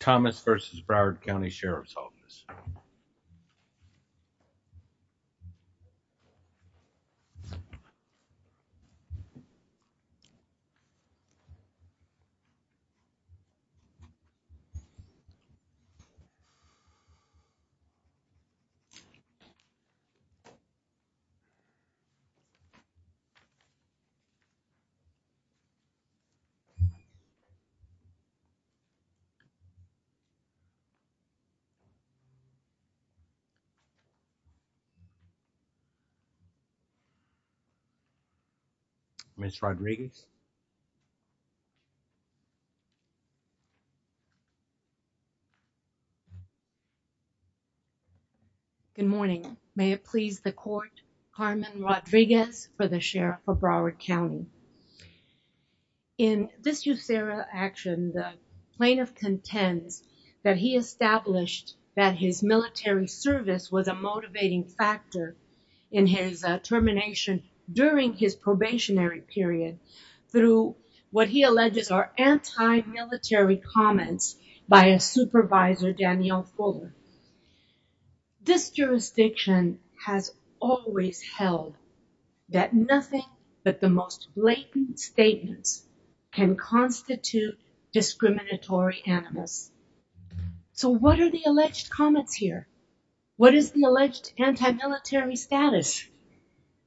Thomas v. Broward County Sheriff's Office Ms. Rodriguez Good morning. May it please the court, Carmen Rodriguez for the Sheriff of Broward County. In this USERRA action, the plaintiff contends that he established that his military service was a motivating factor in his termination during his probationary period through what he alleges are anti-military comments by his supervisor, Danielle Fuller. This jurisdiction has always held that nothing but the most blatant statements can constitute discriminatory animus. So what are the alleged comments here? What is the alleged anti-military status?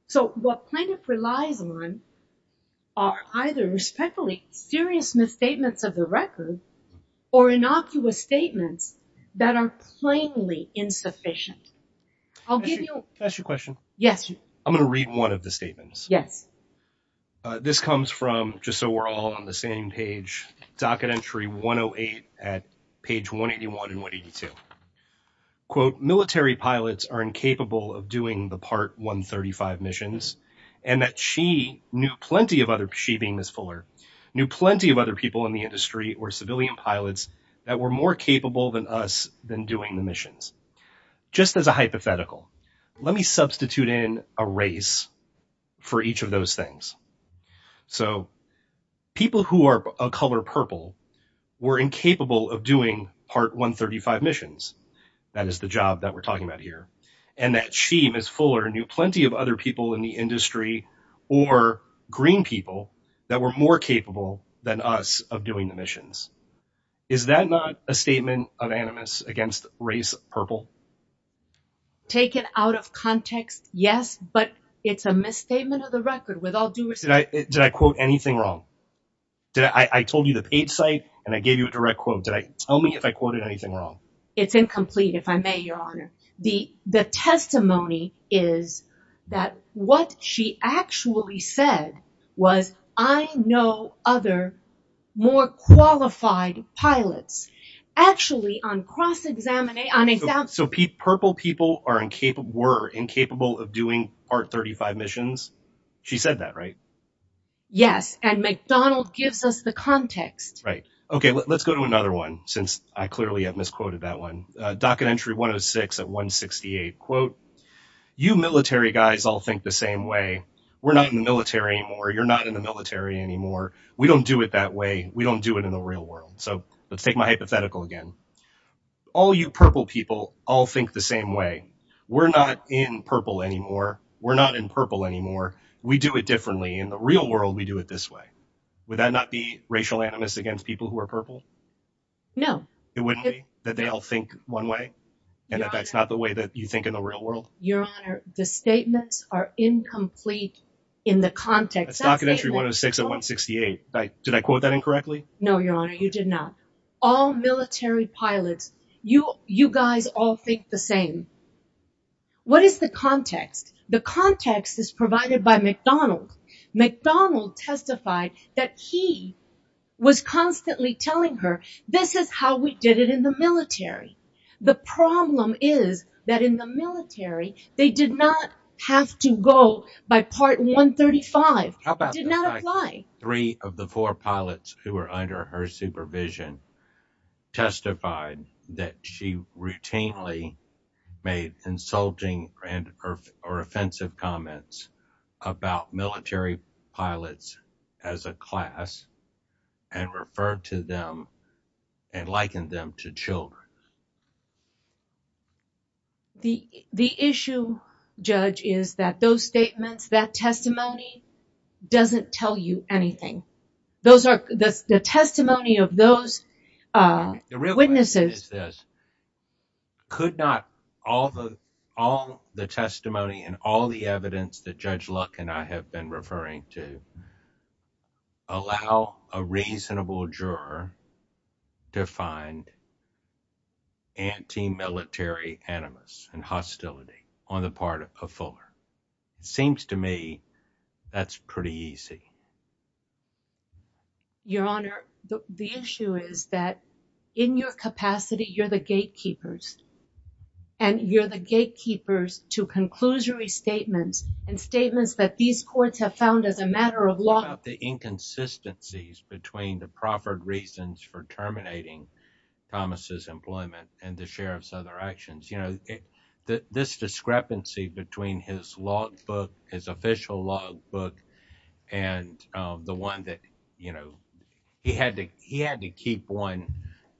So what plaintiff relies on are either respectfully serious misstatements of the record or innocuous statements that are plainly insufficient. I'll give you... Can I ask you a question? Yes. I'm going to read one of the statements. Yes. This comes from, just so we're all on the same page, docket entry 108 at page 181 and 182. Quote, military pilots are incapable of doing the part 135 missions, and that she knew plenty of other, she being Ms. Fuller, knew plenty of other people in the industry or civilian pilots that were more capable than us than doing the missions. Just as a hypothetical, let me substitute in a race for each of those things. So people who are a color purple were incapable of doing part 135 missions. That is the job that we're talking about here. And that she, Ms. Fuller, knew plenty of other people in the industry or green people that were more capable than us of doing the missions. Is that not a statement of animus against race purple? Take it out of context, yes, but it's a misstatement of the record with all due respect. Did I quote anything wrong? I told you the page site and I gave you a direct quote. Tell me if I quoted anything wrong. It's incomplete, if I may, Your Honor. The testimony is that what she actually said was, I know other more qualified pilots. Actually, on cross-examination. So purple people were incapable of doing part 35 missions? She said that, right? Yes, and McDonald gives us the context. Right. Okay, let's go to another one, since I clearly have misquoted that one. Docket entry 106 at 168. Quote, you military guys all think the same way. We're not in the military anymore. You're not in the military anymore. We don't do it that way. We don't do it in the real world. So let's take my hypothetical again. All you purple people all think the same way. We're not in purple anymore. We're not in purple anymore. We do it differently. In the real world, we do it this way. Would that not be racial animus against people who are purple? No. It wouldn't be, that they all think one way, and that that's not the way that you think in the real world? Your Honor, the statements are incomplete in the context. That's docket entry 106 at 168. Did I quote that incorrectly? No, Your Honor, you did not. All military pilots, you guys all think the same. What is the context? The context is provided by McDonald. McDonald testified that he was constantly telling her, this is how we did it in the military. The problem is that in the military, they did not have to go by part 135. It did not apply. Three of the four pilots who were under her supervision testified that she routinely made insulting or offensive comments about military pilots as a class and referred to them and likened them to children. The issue, Judge, is that those statements, that testimony doesn't tell you anything. The testimony of those witnesses- The real question is this. Could not all the testimony and all the evidence that Judge Luck and I have been referring to allow a reasonable juror to find anti-military animus and hostility on the part of Fuller? It seems to me that's pretty easy. Your Honor, the issue is that in your capacity, you're the gatekeepers, and you're the gatekeepers to conclusory statements and statements that these courts have found as a matter of law. The inconsistencies between the proffered reasons for terminating Thomas' employment and the sheriff's other actions, this discrepancy between his logbook, his official logbook, and the one that he had to keep one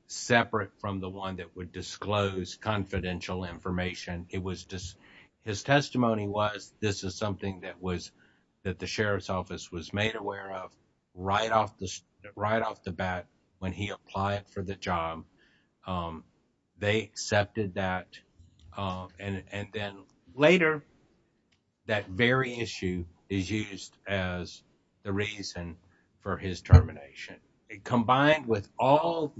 separate from the one that would disclose confidential information. His testimony was, this is something that the sheriff's office was made aware of right off the bat when he applied for the job. They accepted that. Later, that very issue is used as the reason for his termination. Combined with all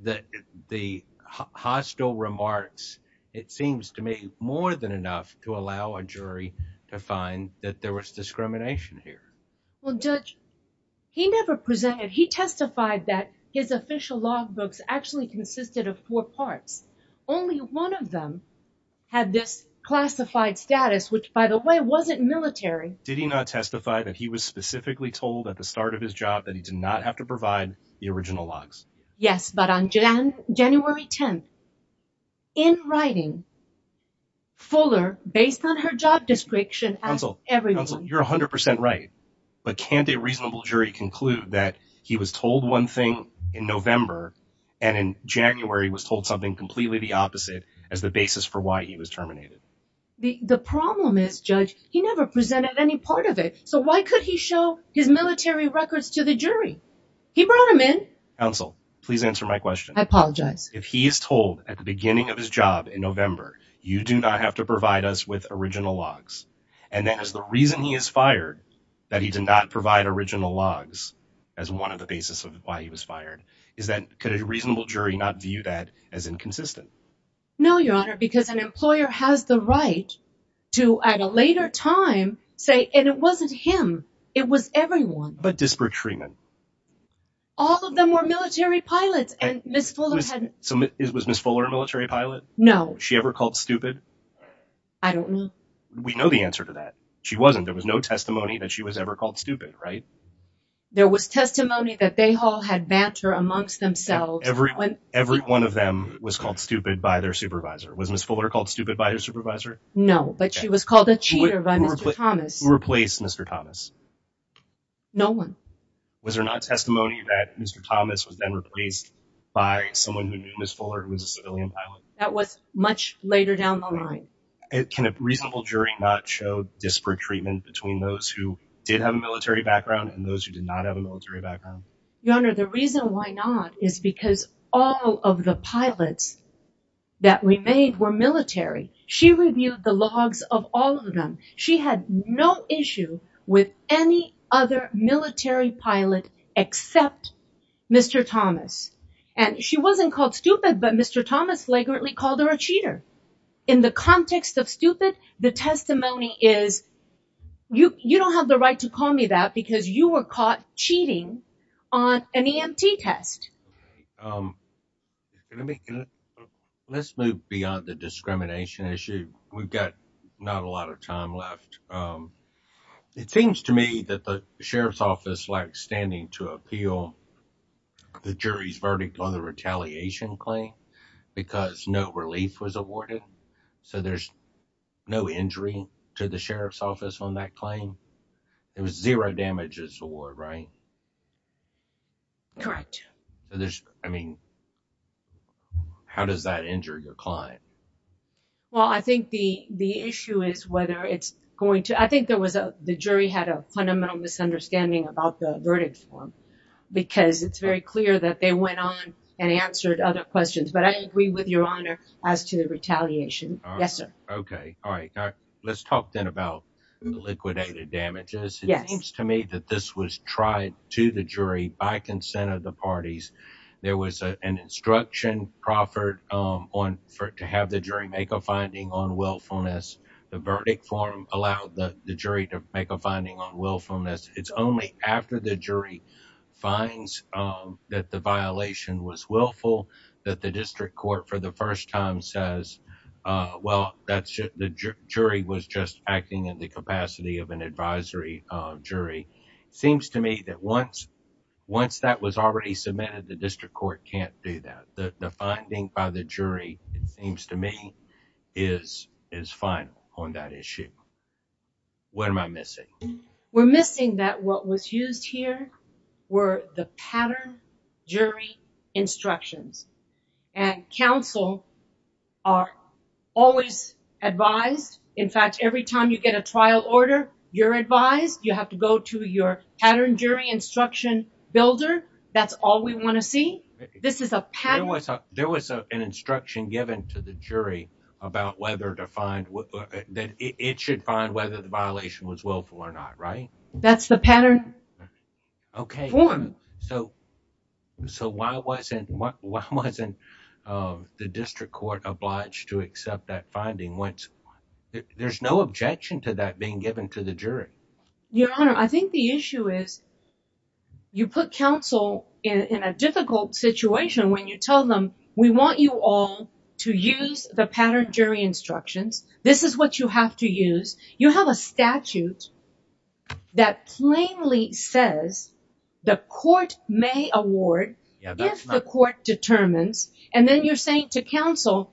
the hostile remarks, it seems to me more than enough to allow a jury to find that there was discrimination here. Judge, he never presented, he testified that his official logbooks actually consisted of four parts. Only one of them had this classified status, which, by the way, wasn't military. Did he not testify that he was specifically told at the start of his job that he did not have to provide the original logs? Yes, but on January 10th, in writing, Fuller, based on her job description, asked everyone. Counsel, you're 100% right, but can't a reasonable jury conclude that he was told one thing in November and in January was told something completely the opposite as the basis for why he was terminated? The problem is, Judge, he never presented any part of it, so why could he show his military records to the jury? He brought them in. Counsel, please answer my question. I apologize. If he is told at the beginning of his job in November, you do not have to provide us with original logs, and that is the reason he is fired, that he did not provide original logs as one of the basis of why he was fired, could a reasonable jury not view that as inconsistent? No, Your Honor, because an employer has the right to, at a later time, say, and it wasn't him, it was everyone. But disparate treatment. All of them were military pilots, and Ms. Fuller had... Was Ms. Fuller a military pilot? No. Was she ever called stupid? I don't know. We know the answer to that. She wasn't. There was no testimony that she was ever called stupid, right? There was testimony that they all had banter amongst themselves. Every one of them was called stupid by their supervisor. Was Ms. Fuller called stupid by her supervisor? No, but she was called a cheater by Mr. Thomas. Who replaced Mr. Thomas? No one. Was there not testimony that Mr. Thomas was then replaced by someone who knew Ms. Fuller who was a civilian pilot? That was much later down the line. Can a reasonable jury not show disparate treatment between those who did have a military background and those who did not have a military background? Your Honor, the reason why not is because all of the pilots that we made were military. She reviewed the logs of all of them. She had no issue with any other military pilot except Mr. Thomas. She wasn't called stupid, but Mr. Thomas flagrantly called her a cheater. In the context of stupid, the testimony is, you don't have the right to call me that because you were caught cheating on an EMT test. Let's move beyond the discrimination issue. We've got not a lot of time left. It seems to me that the sheriff's office lacks standing to appeal the jury's verdict on the retaliation claim because no relief was awarded, so there's no injury to the sheriff's office on that claim. It was zero damages award, right? Correct. I mean, how does that injure your client? Well, I think the issue is whether it's going to— I think the jury had a fundamental misunderstanding about the verdict form because it's very clear that they went on and answered other questions, but I agree with Your Honor as to the retaliation. Yes, sir. Okay. All right. Let's talk then about the liquidated damages. It seems to me that this was tried to the jury by consent of the parties. There was an instruction proffered to have the jury make a finding on willfulness. The verdict form allowed the jury to make a finding on willfulness. It's only after the jury finds that the violation was willful that the district court for the first time says, well, the jury was just acting in the capacity of an advisory jury. It seems to me that once that was already submitted, the district court can't do that. The finding by the jury, it seems to me, is final on that issue. What am I missing? We're missing that what was used here were the pattern jury instructions, and counsel are always advised. In fact, every time you get a trial order, you're advised. You have to go to your pattern jury instruction builder. That's all we want to see. There was an instruction given to the jury that it should find whether the violation was willful or not, right? That's the pattern form. Okay. Why wasn't the district court obliged to accept that finding? There's no objection to that being given to the jury. Your Honor, I think the issue is you put counsel in a difficult situation when you tell them we want you all to use the pattern jury instructions. This is what you have to use. You have a statute that plainly says the court may award if the court determines, and then you're saying to counsel,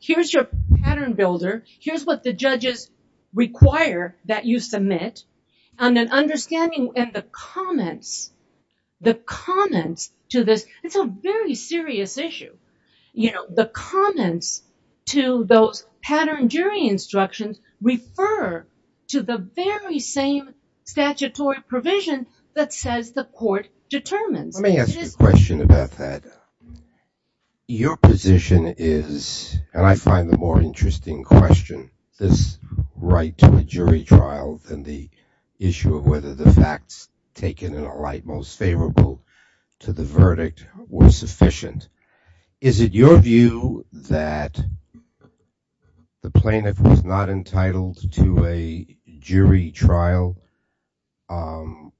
here's your pattern builder, here's what the judges require that you submit, and the comments to this, it's a very serious issue. The comments to those pattern jury instructions refer to the very same statutory provision that says the court determines. Let me ask you a question about that. Your position is, and I find the more interesting question, this right to a jury trial than the issue of whether the facts taken in a light most favorable to the verdict were sufficient. Is it your view that the plaintiff was not entitled to a jury trial on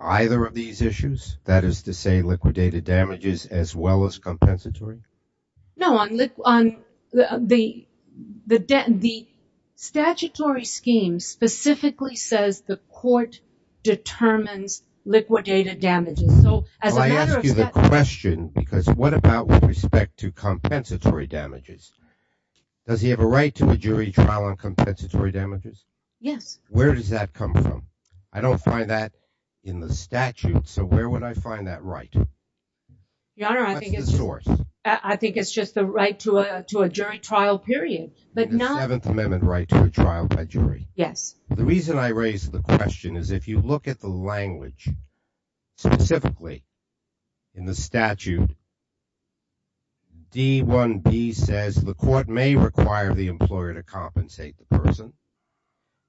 either of these issues? That is to say liquidated damages as well as compensatory? No, the statutory scheme specifically says the court determines liquidated damages. I ask you the question because what about with respect to compensatory damages? Does he have a right to a jury trial on compensatory damages? Yes. Where does that come from? I don't find that in the statute, so where would I find that right? Your Honor, I think it's just the right to a jury trial period. The Seventh Amendment right to a trial by jury. Yes. The reason I raise the question is if you look at the language, specifically in the statute, D1B says the court may require the employer to compensate the person.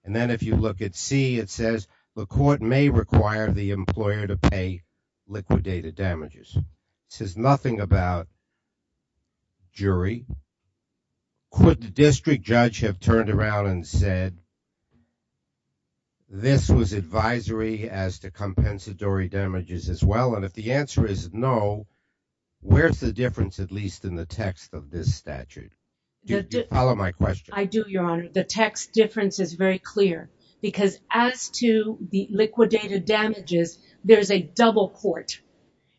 Then if you look at C, it says the court may require the employer to pay liquidated damages. It says nothing about jury. Could the district judge have turned around and said this was advisory as to compensatory damages as well? If the answer is no, where's the difference, at least in the text Do you follow my question? I do, Your Honor. The text difference is very clear because as to the liquidated damages, there's a double court.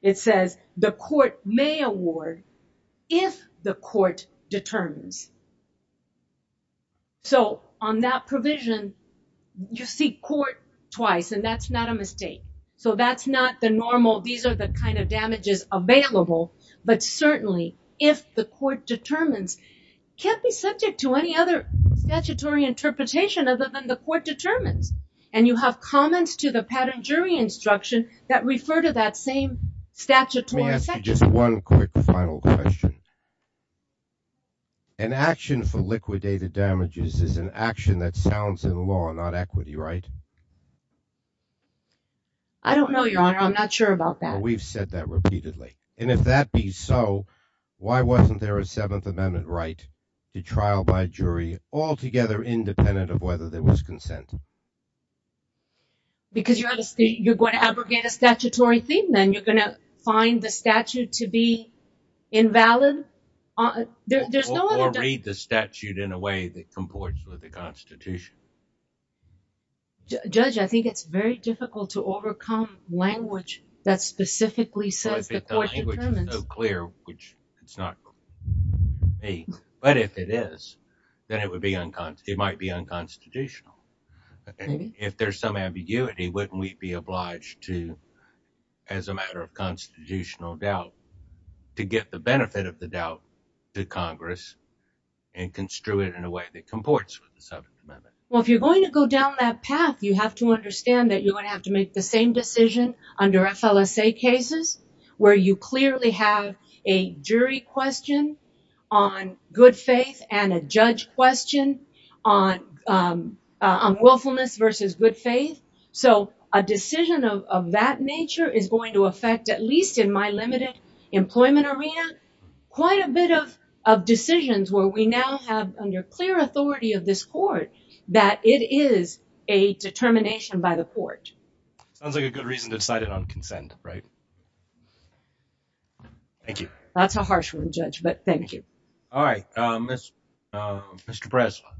It says the court may award if the court determines. On that provision, you see court twice, and that's not a mistake. That's not the normal, these are the kind of damages available, but certainly if the court determines, can't be subject to any other statutory interpretation other than the court determines. You have comments to the pattern jury instruction that refer to that same statutory section. Let me ask you just one quick final question. An action for liquidated damages is an action that sounds in law, not equity, right? I don't know, Your Honor. I'm not sure about that. Your Honor, we've said that repeatedly, and if that be so, why wasn't there a Seventh Amendment right to trial by jury altogether independent of whether there was consent? Because you're going to abrogate a statutory thing, then you're going to find the statute to be invalid. Or read the statute in a way that comports with the Constitution. Judge, I think it's very difficult to overcome language that specifically says the court determines. I think the language is so clear, which it's not for me, but if it is, then it might be unconstitutional. If there's some ambiguity, wouldn't we be obliged to, as a matter of constitutional doubt, to get the benefit of the doubt to Congress and construe it in a way that comports with the Seventh Amendment? Well, if you're going to go down that path, you have to understand that you're going to have to make the same decision under FLSA cases where you clearly have a jury question on good faith and a judge question on willfulness versus good faith. So a decision of that nature is going to affect, at least in my limited employment arena, quite a bit of decisions where we now have, under clear authority of this court, that it is a determination by the court. Sounds like a good reason to decide it on consent, right? Thank you. That's a harsh one, Judge, but thank you. All right. Mr. Breslin.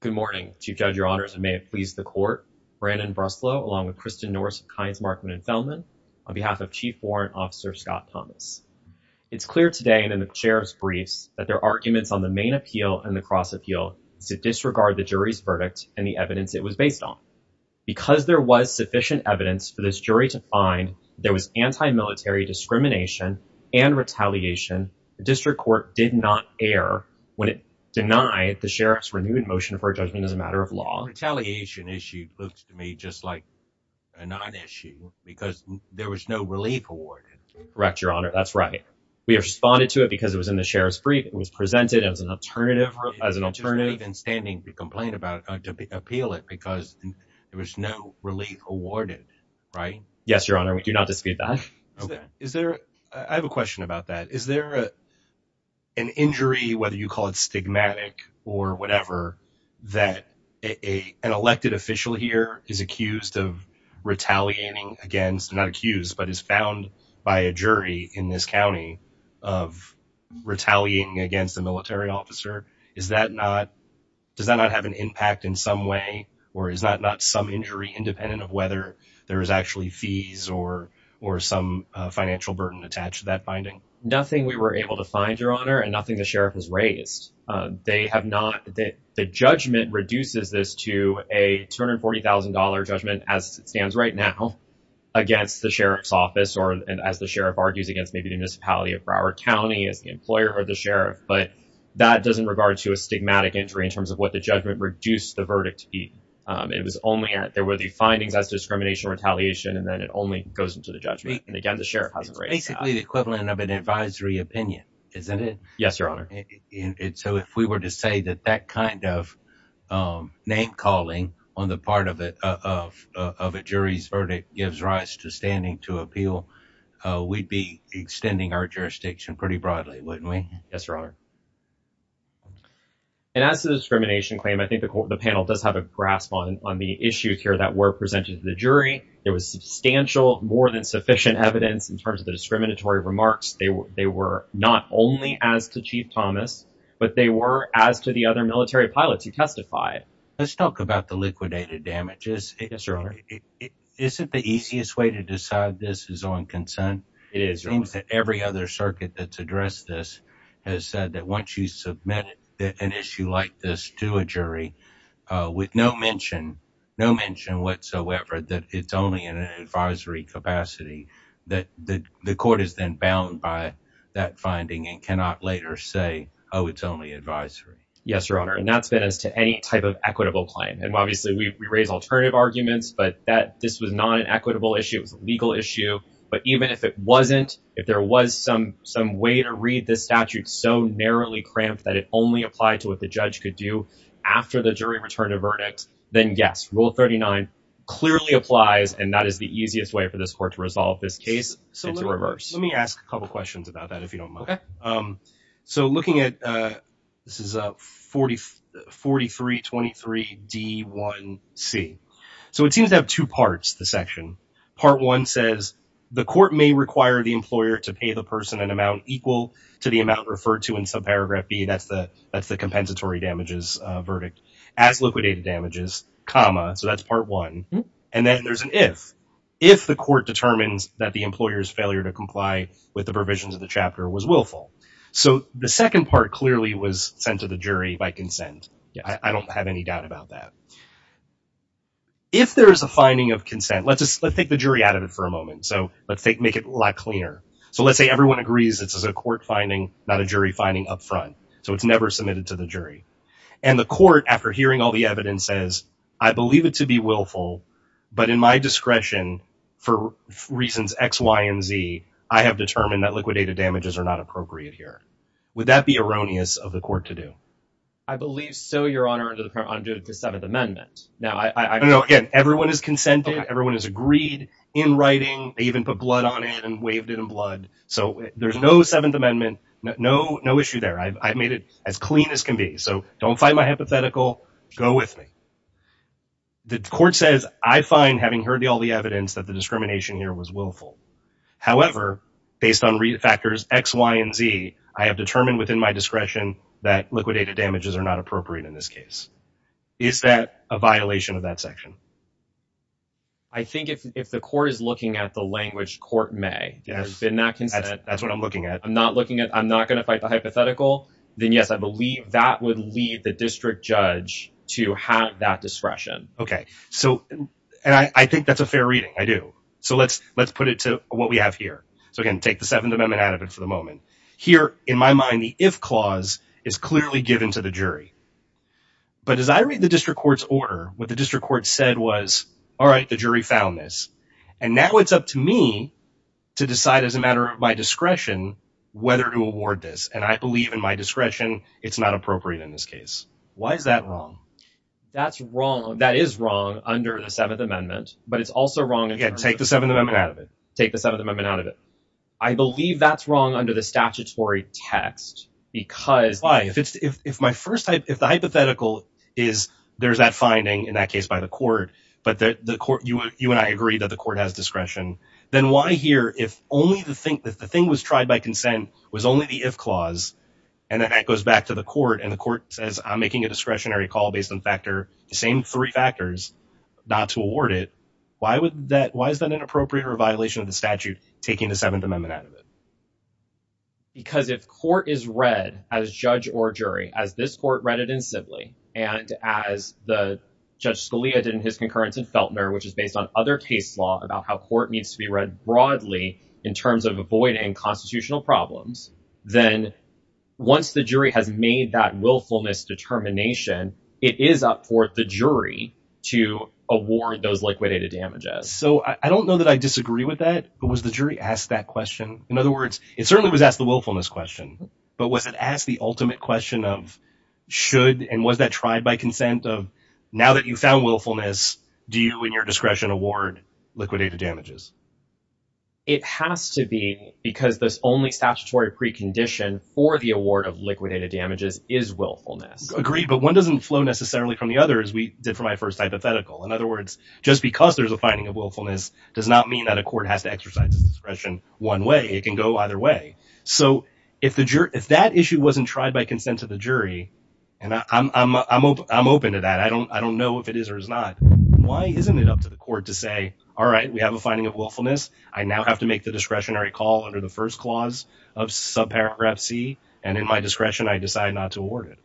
Good morning, Chief Judge, Your Honors, and may it please the court. Brandon Breslin, along with Kristen Norse, Kynes, Markman, and Feldman, on behalf of Chief Warrant Officer Scott Thomas. It's clear today, and in the chair's briefs, that their arguments on the main appeal and the cross appeal is to disregard the jury's verdict and the evidence it was based on. Because there was sufficient evidence for this jury to find that there was anti-military discrimination and retaliation, the district court did not err when it denied the sheriff's renewed motion for a judgment as a matter of law. The retaliation issue looks to me just like a non-issue because there was no relief awarded. Correct, Your Honor. That's right. We responded to it because it was in the sheriff's brief. It was presented as an alternative. It would have been standing to complain about it, to appeal it, because there was no relief awarded, right? Yes, Your Honor. We do not dispute that. I have a question about that. Is there an injury, whether you call it stigmatic or whatever, that an elected official here is accused of retaliating against, not accused, but is found by a jury in this county of retaliating against a military officer? Does that not have an impact in some way, or is that not some injury independent of whether there is actually fees or some financial burden attached to that finding? Nothing we were able to find, Your Honor, and nothing the sheriff has raised. The judgment reduces this to a $240,000 judgment, as it stands right now, against the sheriff's office, or as the sheriff argues, against maybe the municipality of Broward County as the employer or the sheriff. But that doesn't regard to a stigmatic injury in terms of what the judgment reduced the verdict to be. There were the findings as discrimination or retaliation, and then it only goes into the judgment. It's basically the equivalent of an advisory opinion, isn't it? Yes, Your Honor. So if we were to say that that kind of name-calling on the part of a jury's verdict gives rise to standing to appeal, we'd be extending our jurisdiction pretty broadly, wouldn't we? Yes, Your Honor. And as to the discrimination claim, I think the panel does have a grasp on the issues here that were presented to the jury. There was substantial, more than sufficient evidence in terms of the discriminatory remarks. They were not only as to Chief Thomas, but they were as to the other military pilots who testified. Let's talk about the liquidated damages. Yes, Your Honor. Isn't the easiest way to decide this is on consent? It is, Your Honor. It seems that every other circuit that's addressed this has said that once you submit an issue like this to a jury with no mention whatsoever that it's only in an advisory capacity, that the court is then bound by that finding and cannot later say, oh, it's only advisory. Yes, Your Honor. And that's been as to any type of equitable claim. And obviously we raise alternative arguments, but this was not an equitable issue. It was a legal issue. But even if it wasn't, if there was some way to read this statute so narrowly cramped that it only applied to what the judge could do after the jury returned a verdict, then yes, Rule 39 clearly applies. And that is the easiest way for this court to resolve this case. So let me ask a couple of questions about that, if you don't mind. So looking at this is 4323D1C. So it seems to have two parts, the section. Part one says the court may require the employer to pay the person an amount equal to the amount referred to in subparagraph B. That's the compensatory damages verdict as liquidated damages, comma. So that's part one. And then there's an if. If the court determines that the employer's failure to comply with the provisions of the chapter was willful. So the second part clearly was sent to the jury by consent. I don't have any doubt about that. If there is a finding of consent, let's take the jury out of it for a moment. So let's make it a lot cleaner. So let's say everyone agrees this is a court finding, not a jury finding up front. So it's never submitted to the jury. And the court, after hearing all the evidence, says, I believe it to be willful, but in my discretion, for reasons X, Y, and Z, I have determined that liquidated damages are not appropriate here. Would that be erroneous of the court to do? I believe so, Your Honor, under the Seventh Amendment. No, again, everyone has consented. Everyone has agreed in writing. They even put blood on it and waved it in blood. So there's no Seventh Amendment, no issue there. I've made it as clean as can be. So don't fight my hypothetical. Go with me. The court says, I find, having heard all the evidence, that the discrimination here was willful. However, based on factors X, Y, and Z, I have determined within my discretion that liquidated damages are not appropriate in this case. Is that a violation of that section? I think if the court is looking at the language, court may. There's been that consent. That's what I'm looking at. I'm not going to fight the hypothetical. Then, yes, I believe that would lead the district judge to have that discretion. Okay. And I think that's a fair reading. I do. So let's put it to what we have here. So, again, take the Seventh Amendment out of it for the moment. Here, in my mind, the if clause is clearly given to the jury. But as I read the district court's order, what the district court said was, all right, the jury found this. And now it's up to me to decide, as a matter of my discretion, whether to award this. And I believe, in my discretion, it's not appropriate in this case. Why is that wrong? That's wrong. That is wrong under the Seventh Amendment. But it's also wrong. Again, take the Seventh Amendment out of it. Take the Seventh Amendment out of it. I believe that's wrong under the statutory text because. Why? If the hypothetical is there's that finding, in that case, by the court, but you and I agree that the court has discretion, then why here, if the thing was tried by consent, was only the if clause, and then that goes back to the court, and the court says, I'm making a discretionary call based on the same three factors, not to award it, why is that inappropriate or a violation of the statute, taking the Seventh Amendment out of it? Because if court is read as judge or jury, as this court read it in Sibley, and as Judge Scalia did in his concurrence in Feltner, which is based on other case law about how court needs to be read broadly in terms of avoiding constitutional problems, then once the jury has made that willfulness determination, it is up for the jury to award those liquidated damages. So I don't know that I disagree with that, but was the jury asked that question? In other words, it certainly was asked the willfulness question, but was it asked the ultimate question of should, and was that tried by consent of now that you found willfulness, do you in your discretion award liquidated damages? It has to be because this only statutory precondition for the award of liquidated damages is willfulness. Agreed, but one doesn't flow necessarily from the other, as we did for my first hypothetical. In other words, just because there's a finding of willfulness does not mean that a court has to exercise its discretion one way. It can go either way. So if that issue wasn't tried by consent of the jury, and I'm open to that, I don't know if it is or is not, why isn't it up to the court to say, all right, we have a finding of willfulness, I now have to make the discretionary call under the first clause of subparagraph C, and in my discretion I decide not to award it?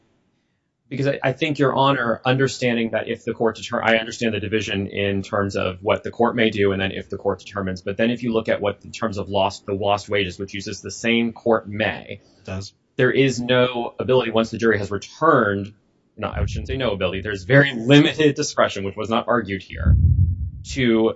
Because I think you're on or understanding that if the court determines, or I understand the division in terms of what the court may do, and then if the court determines, but then if you look at what, in terms of the lost wages, which uses the same court may, there is no ability once the jury has returned, no, I shouldn't say no ability, there's very limited discretion, which was not argued here, to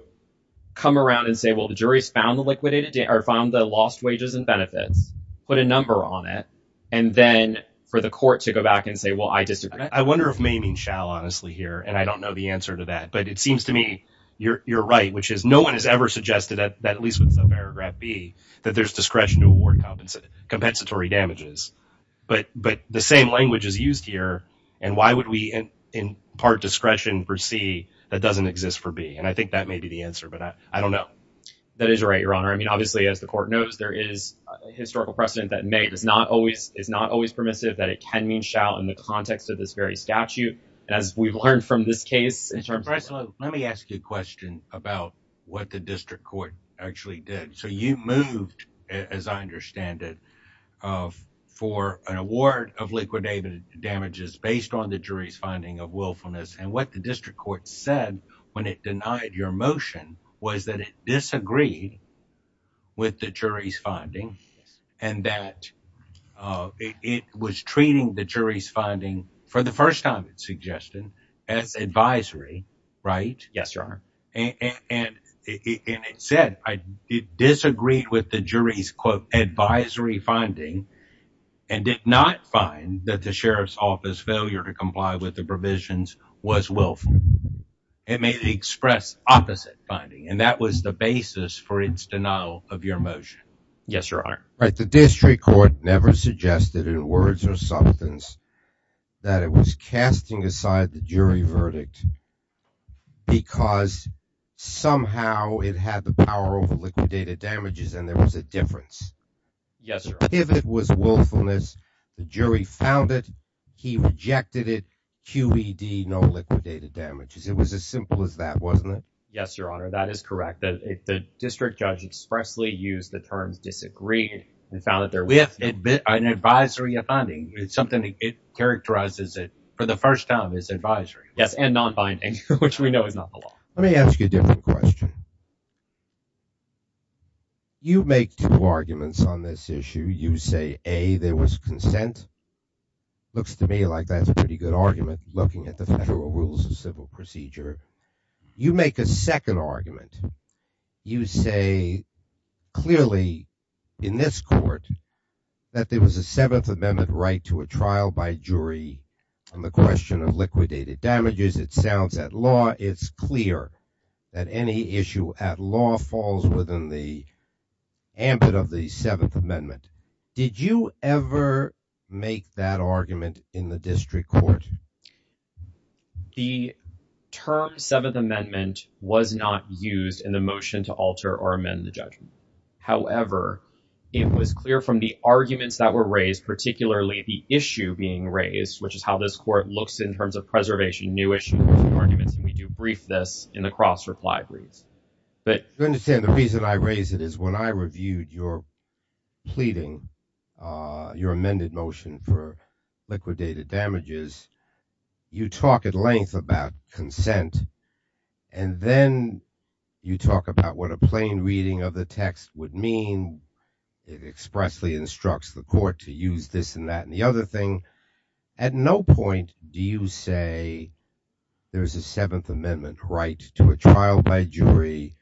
come around and say, well, the jury's found the liquidated, or found the lost wages and benefits, put a number on it, and then for the court to go back and say, well, I disagree. I wonder if may mean shall, honestly, here, and I don't know the answer to that, but it seems to me you're right, which is no one has ever suggested that, at least with subparagraph B, that there's discretion to award compensatory damages, but the same language is used here, and why would we impart discretion for C that doesn't exist for B? And I think that may be the answer, but I don't know. That is right, Your Honor. I mean, obviously, as the court knows, there is a historical precedent that may is not always permissive, that it can mean shall in the context of this very statute, as we've learned from this case. Mr. Breslow, let me ask you a question about what the district court actually did. So you moved, as I understand it, for an award of liquidated damages based on the jury's finding of willfulness, and what the district court said when it denied your motion was that it disagreed with the jury's finding and that it was treating the jury's finding, for the first time it suggested, as advisory, right? Yes, Your Honor. And it said it disagreed with the jury's, quote, advisory finding and did not find that the sheriff's office failure to comply with the provisions was willful. It may have expressed opposite finding, and that was the basis for its denial of your motion. Yes, Your Honor. Right, the district court never suggested in words or somethings that it was casting aside the jury verdict because somehow it had the power over liquidated damages and there was a difference. Yes, Your Honor. If it was willfulness, the jury found it, he rejected it, QED, no liquidated damages. It was as simple as that, wasn't it? Yes, Your Honor, that is correct. The district judge expressly used the term disagreed and found that there was an advisory finding. It's something that characterizes it for the first time as advisory. Yes, and non-binding, which we know is not the law. Let me ask you a different question. You make two arguments on this issue. You say, A, there was consent. Looks to me like that's a pretty good argument looking at the federal rules of civil procedure. You make a second argument. You say clearly in this court that there was a Seventh Amendment right to a trial by jury on the question of liquidated damages. It sounds at law. It's clear that any issue at law falls within the ambit of the Seventh Amendment. Did you ever make that argument in the district court? The term Seventh Amendment was not used in the motion to alter or amend the judgment. However, it was clear from the arguments that were raised, particularly the issue being raised, which is how this court looks in terms of preservation, new issues, new arguments, and we do brief this in the cross-reply briefs. your amended motion for liquidated damages. You talk at length about consent, and then you talk about what a plain reading of the text would mean. It expressly instructs the court to use this and that and the other thing. At no point do you say there's a Seventh Amendment right to a trial by jury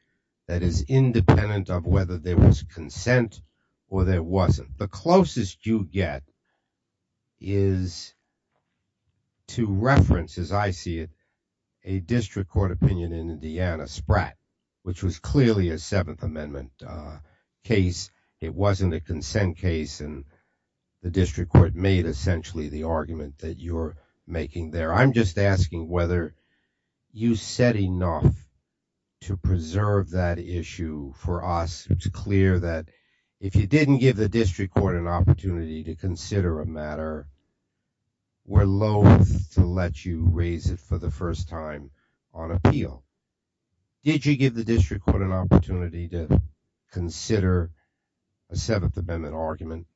that is independent of whether there was consent or there wasn't. The closest you get is to reference, as I see it, a district court opinion in Indiana, Spratt, which was clearly a Seventh Amendment case. It wasn't a consent case, and the district court made essentially the argument that you're making there. I'm just asking whether you said enough to preserve that issue for us. It's clear that if you didn't give the district court an opportunity to consider a matter, we're loathe to let you raise it for the first time on appeal. Did you give the district court an opportunity to consider a Seventh Amendment argument?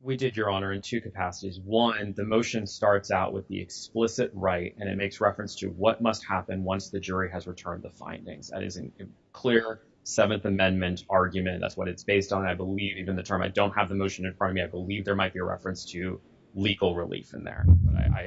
We did, Your Honor, in two capacities. One, the motion starts out with the explicit right, and it makes reference to what must happen once the jury has returned the findings. That is a clear Seventh Amendment argument. That's what it's based on. I believe even the term, I don't have the motion in front of me. I believe there might be a reference to legal relief in there.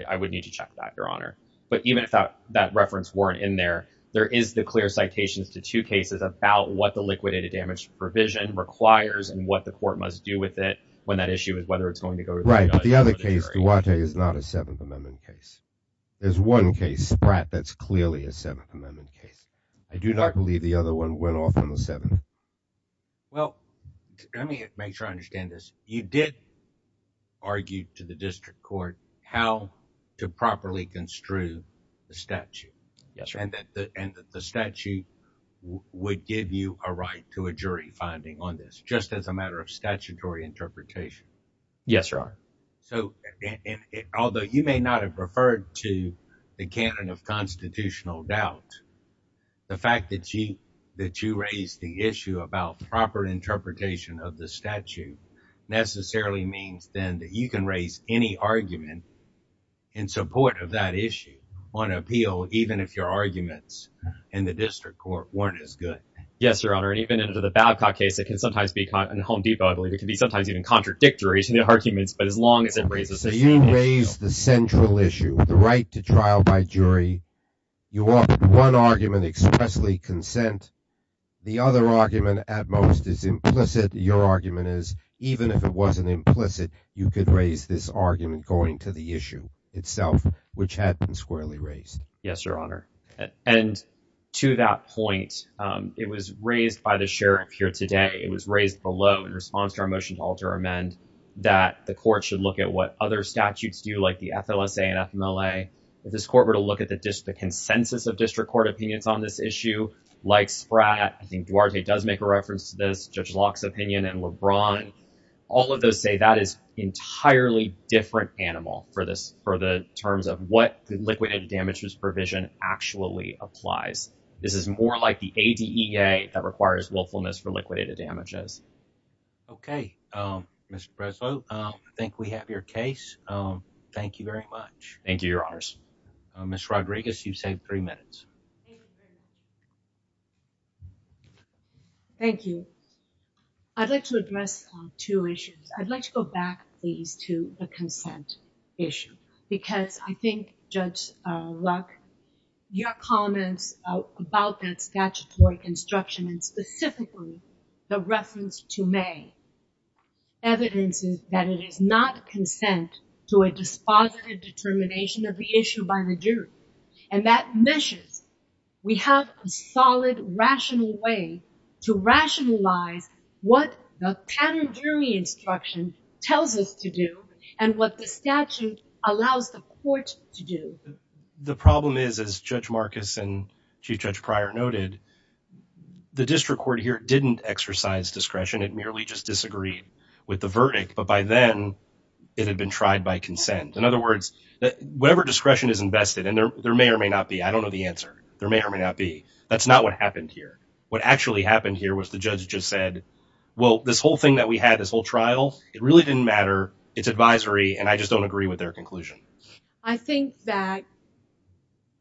I would need to check that, Your Honor. But even if that reference weren't in there, there is the clear citations to two cases about what the liquidated damage provision requires and what the court must do with it when that issue is whether it's going to go to the judge. The other case, Duarte, is not a Seventh Amendment case. There's one case, Spratt, that's clearly a Seventh Amendment case. I do not believe the other one went off on the Seventh. Well, let me make sure I understand this. You did argue to the district court how to properly construe the statute. Yes, Your Honor. And that the statute would give you a right to a jury finding on this, just as a matter of statutory interpretation. Yes, Your Honor. So, although you may not have referred to the canon of constitutional doubt, the fact that you raised the issue about proper interpretation of the statute necessarily means then that you can raise any argument in support of that issue on appeal, even if your arguments in the district court weren't as good. Yes, Your Honor. And even under the Babcock case, it can sometimes be, and in Home Depot, I believe, it can be sometimes even contradictory to the arguments, but as long as it raises the same issue. So you raised the central issue, the right to trial by jury. You offered one argument, expressly consent. The other argument, at most, is implicit. Your argument is, even if it wasn't implicit, you could raise this argument going to the issue itself, which had been squarely raised. Yes, Your Honor. And to that point, it was raised by the sheriff here today. It was raised below in response to our motion to alter amend that the court should look at what other statutes do, like the FLSA and FMLA. If this court were to look at the consensus of district court opinions on this issue, like Spratt, I think Duarte does make a reference to this, Judge Locke's opinion, and LeBron, all of those say that is entirely different animal for the terms of what the liquidated damages provision actually applies. This is more like the ADEA that requires willfulness for liquidated damages. Okay. Ms. Breslow, I think we have your case. Thank you very much. Thank you, Your Honors. Ms. Rodriguez, you've saved three minutes. Thank you. I'd like to address two issues. I'd like to go back, please, to the consent issue, because I think, Judge Locke, your comments about that statutory instruction, and specifically the reference to May, evidence is that it is not consent to a dispositive determination of the issue by the jury. And that measures we have a solid, rational way to rationalize what the pattern jury instruction tells us to do and what the statute allows the court to do. The problem is, as Judge Marcus and Chief Judge Pryor noted, the district court here didn't exercise discretion. It merely just disagreed with the verdict. But by then, it had been tried by consent. In other words, whatever discretion is invested, and there may or may not be, I don't know the answer, there may or may not be, that's not what happened here. What actually happened here was the judge just said, well, this whole thing that we had, this whole trial, it really didn't matter, it's advisory, and I just don't agree with their conclusion. I think that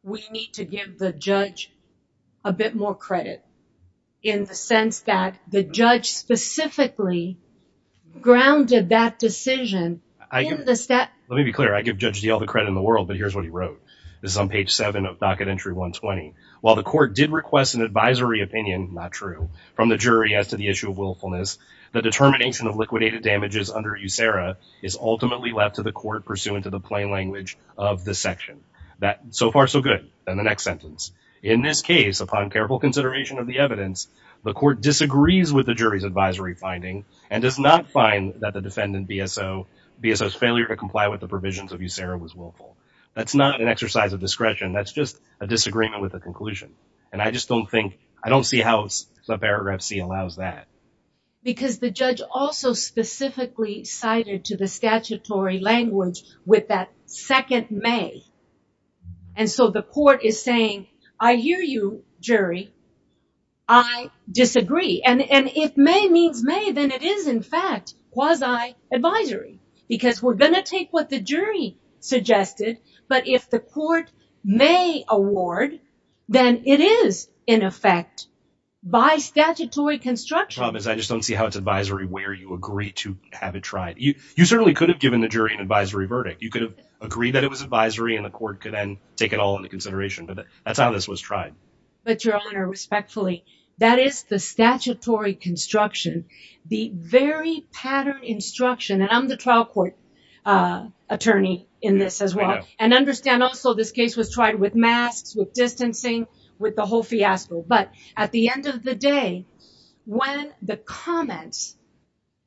we need to give the judge a bit more credit, in the sense that the judge specifically grounded that decision. Let me be clear. I give Judge Diehl the credit in the world, but here's what he wrote. This is on page seven of docket entry 120. While the court did request an advisory opinion, not true, from the jury as to the issue of willfulness, the determination of liquidated damages under USERRA is ultimately left to the court, pursuant to the plain language of this section. So far, so good. And the next sentence. In this case, upon careful consideration of the evidence, the court disagrees with the jury's advisory finding and does not find that the defendant, BSO, BSO's failure to comply with the provisions of USERRA was willful. That's not an exercise of discretion. That's just a disagreement with the conclusion. And I just don't think, I don't see how paragraph C allows that. Because the judge also specifically cited to the statutory language with that second may. And so the court is saying, I hear you, jury. I disagree. And if may means may, then it is, in fact, quasi advisory. Because we're going to take what the jury suggested, but if the court may award, then it is, in effect, by statutory construction. I just don't see how it's advisory where you agree to have it tried. You certainly could have given the jury an advisory verdict. You could have agreed that it was advisory and the court could then take it all into consideration. But that's how this was tried. But, Your Honor, respectfully, that is the statutory construction. The very pattern instruction, and I'm the trial court attorney in this as well, and understand also this case was tried with masks, with distancing, with the whole fiasco. But at the end of the day, when the comments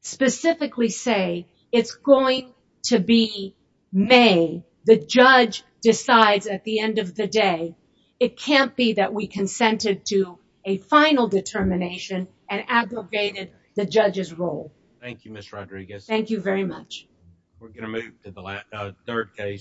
specifically say it's going to be may, the judge decides at the end of the day, it can't be that we consented to a final determination and aggregated the judge's role. Thank you, Ms. Rodriguez. Thank you very much. We're going to move to the third case.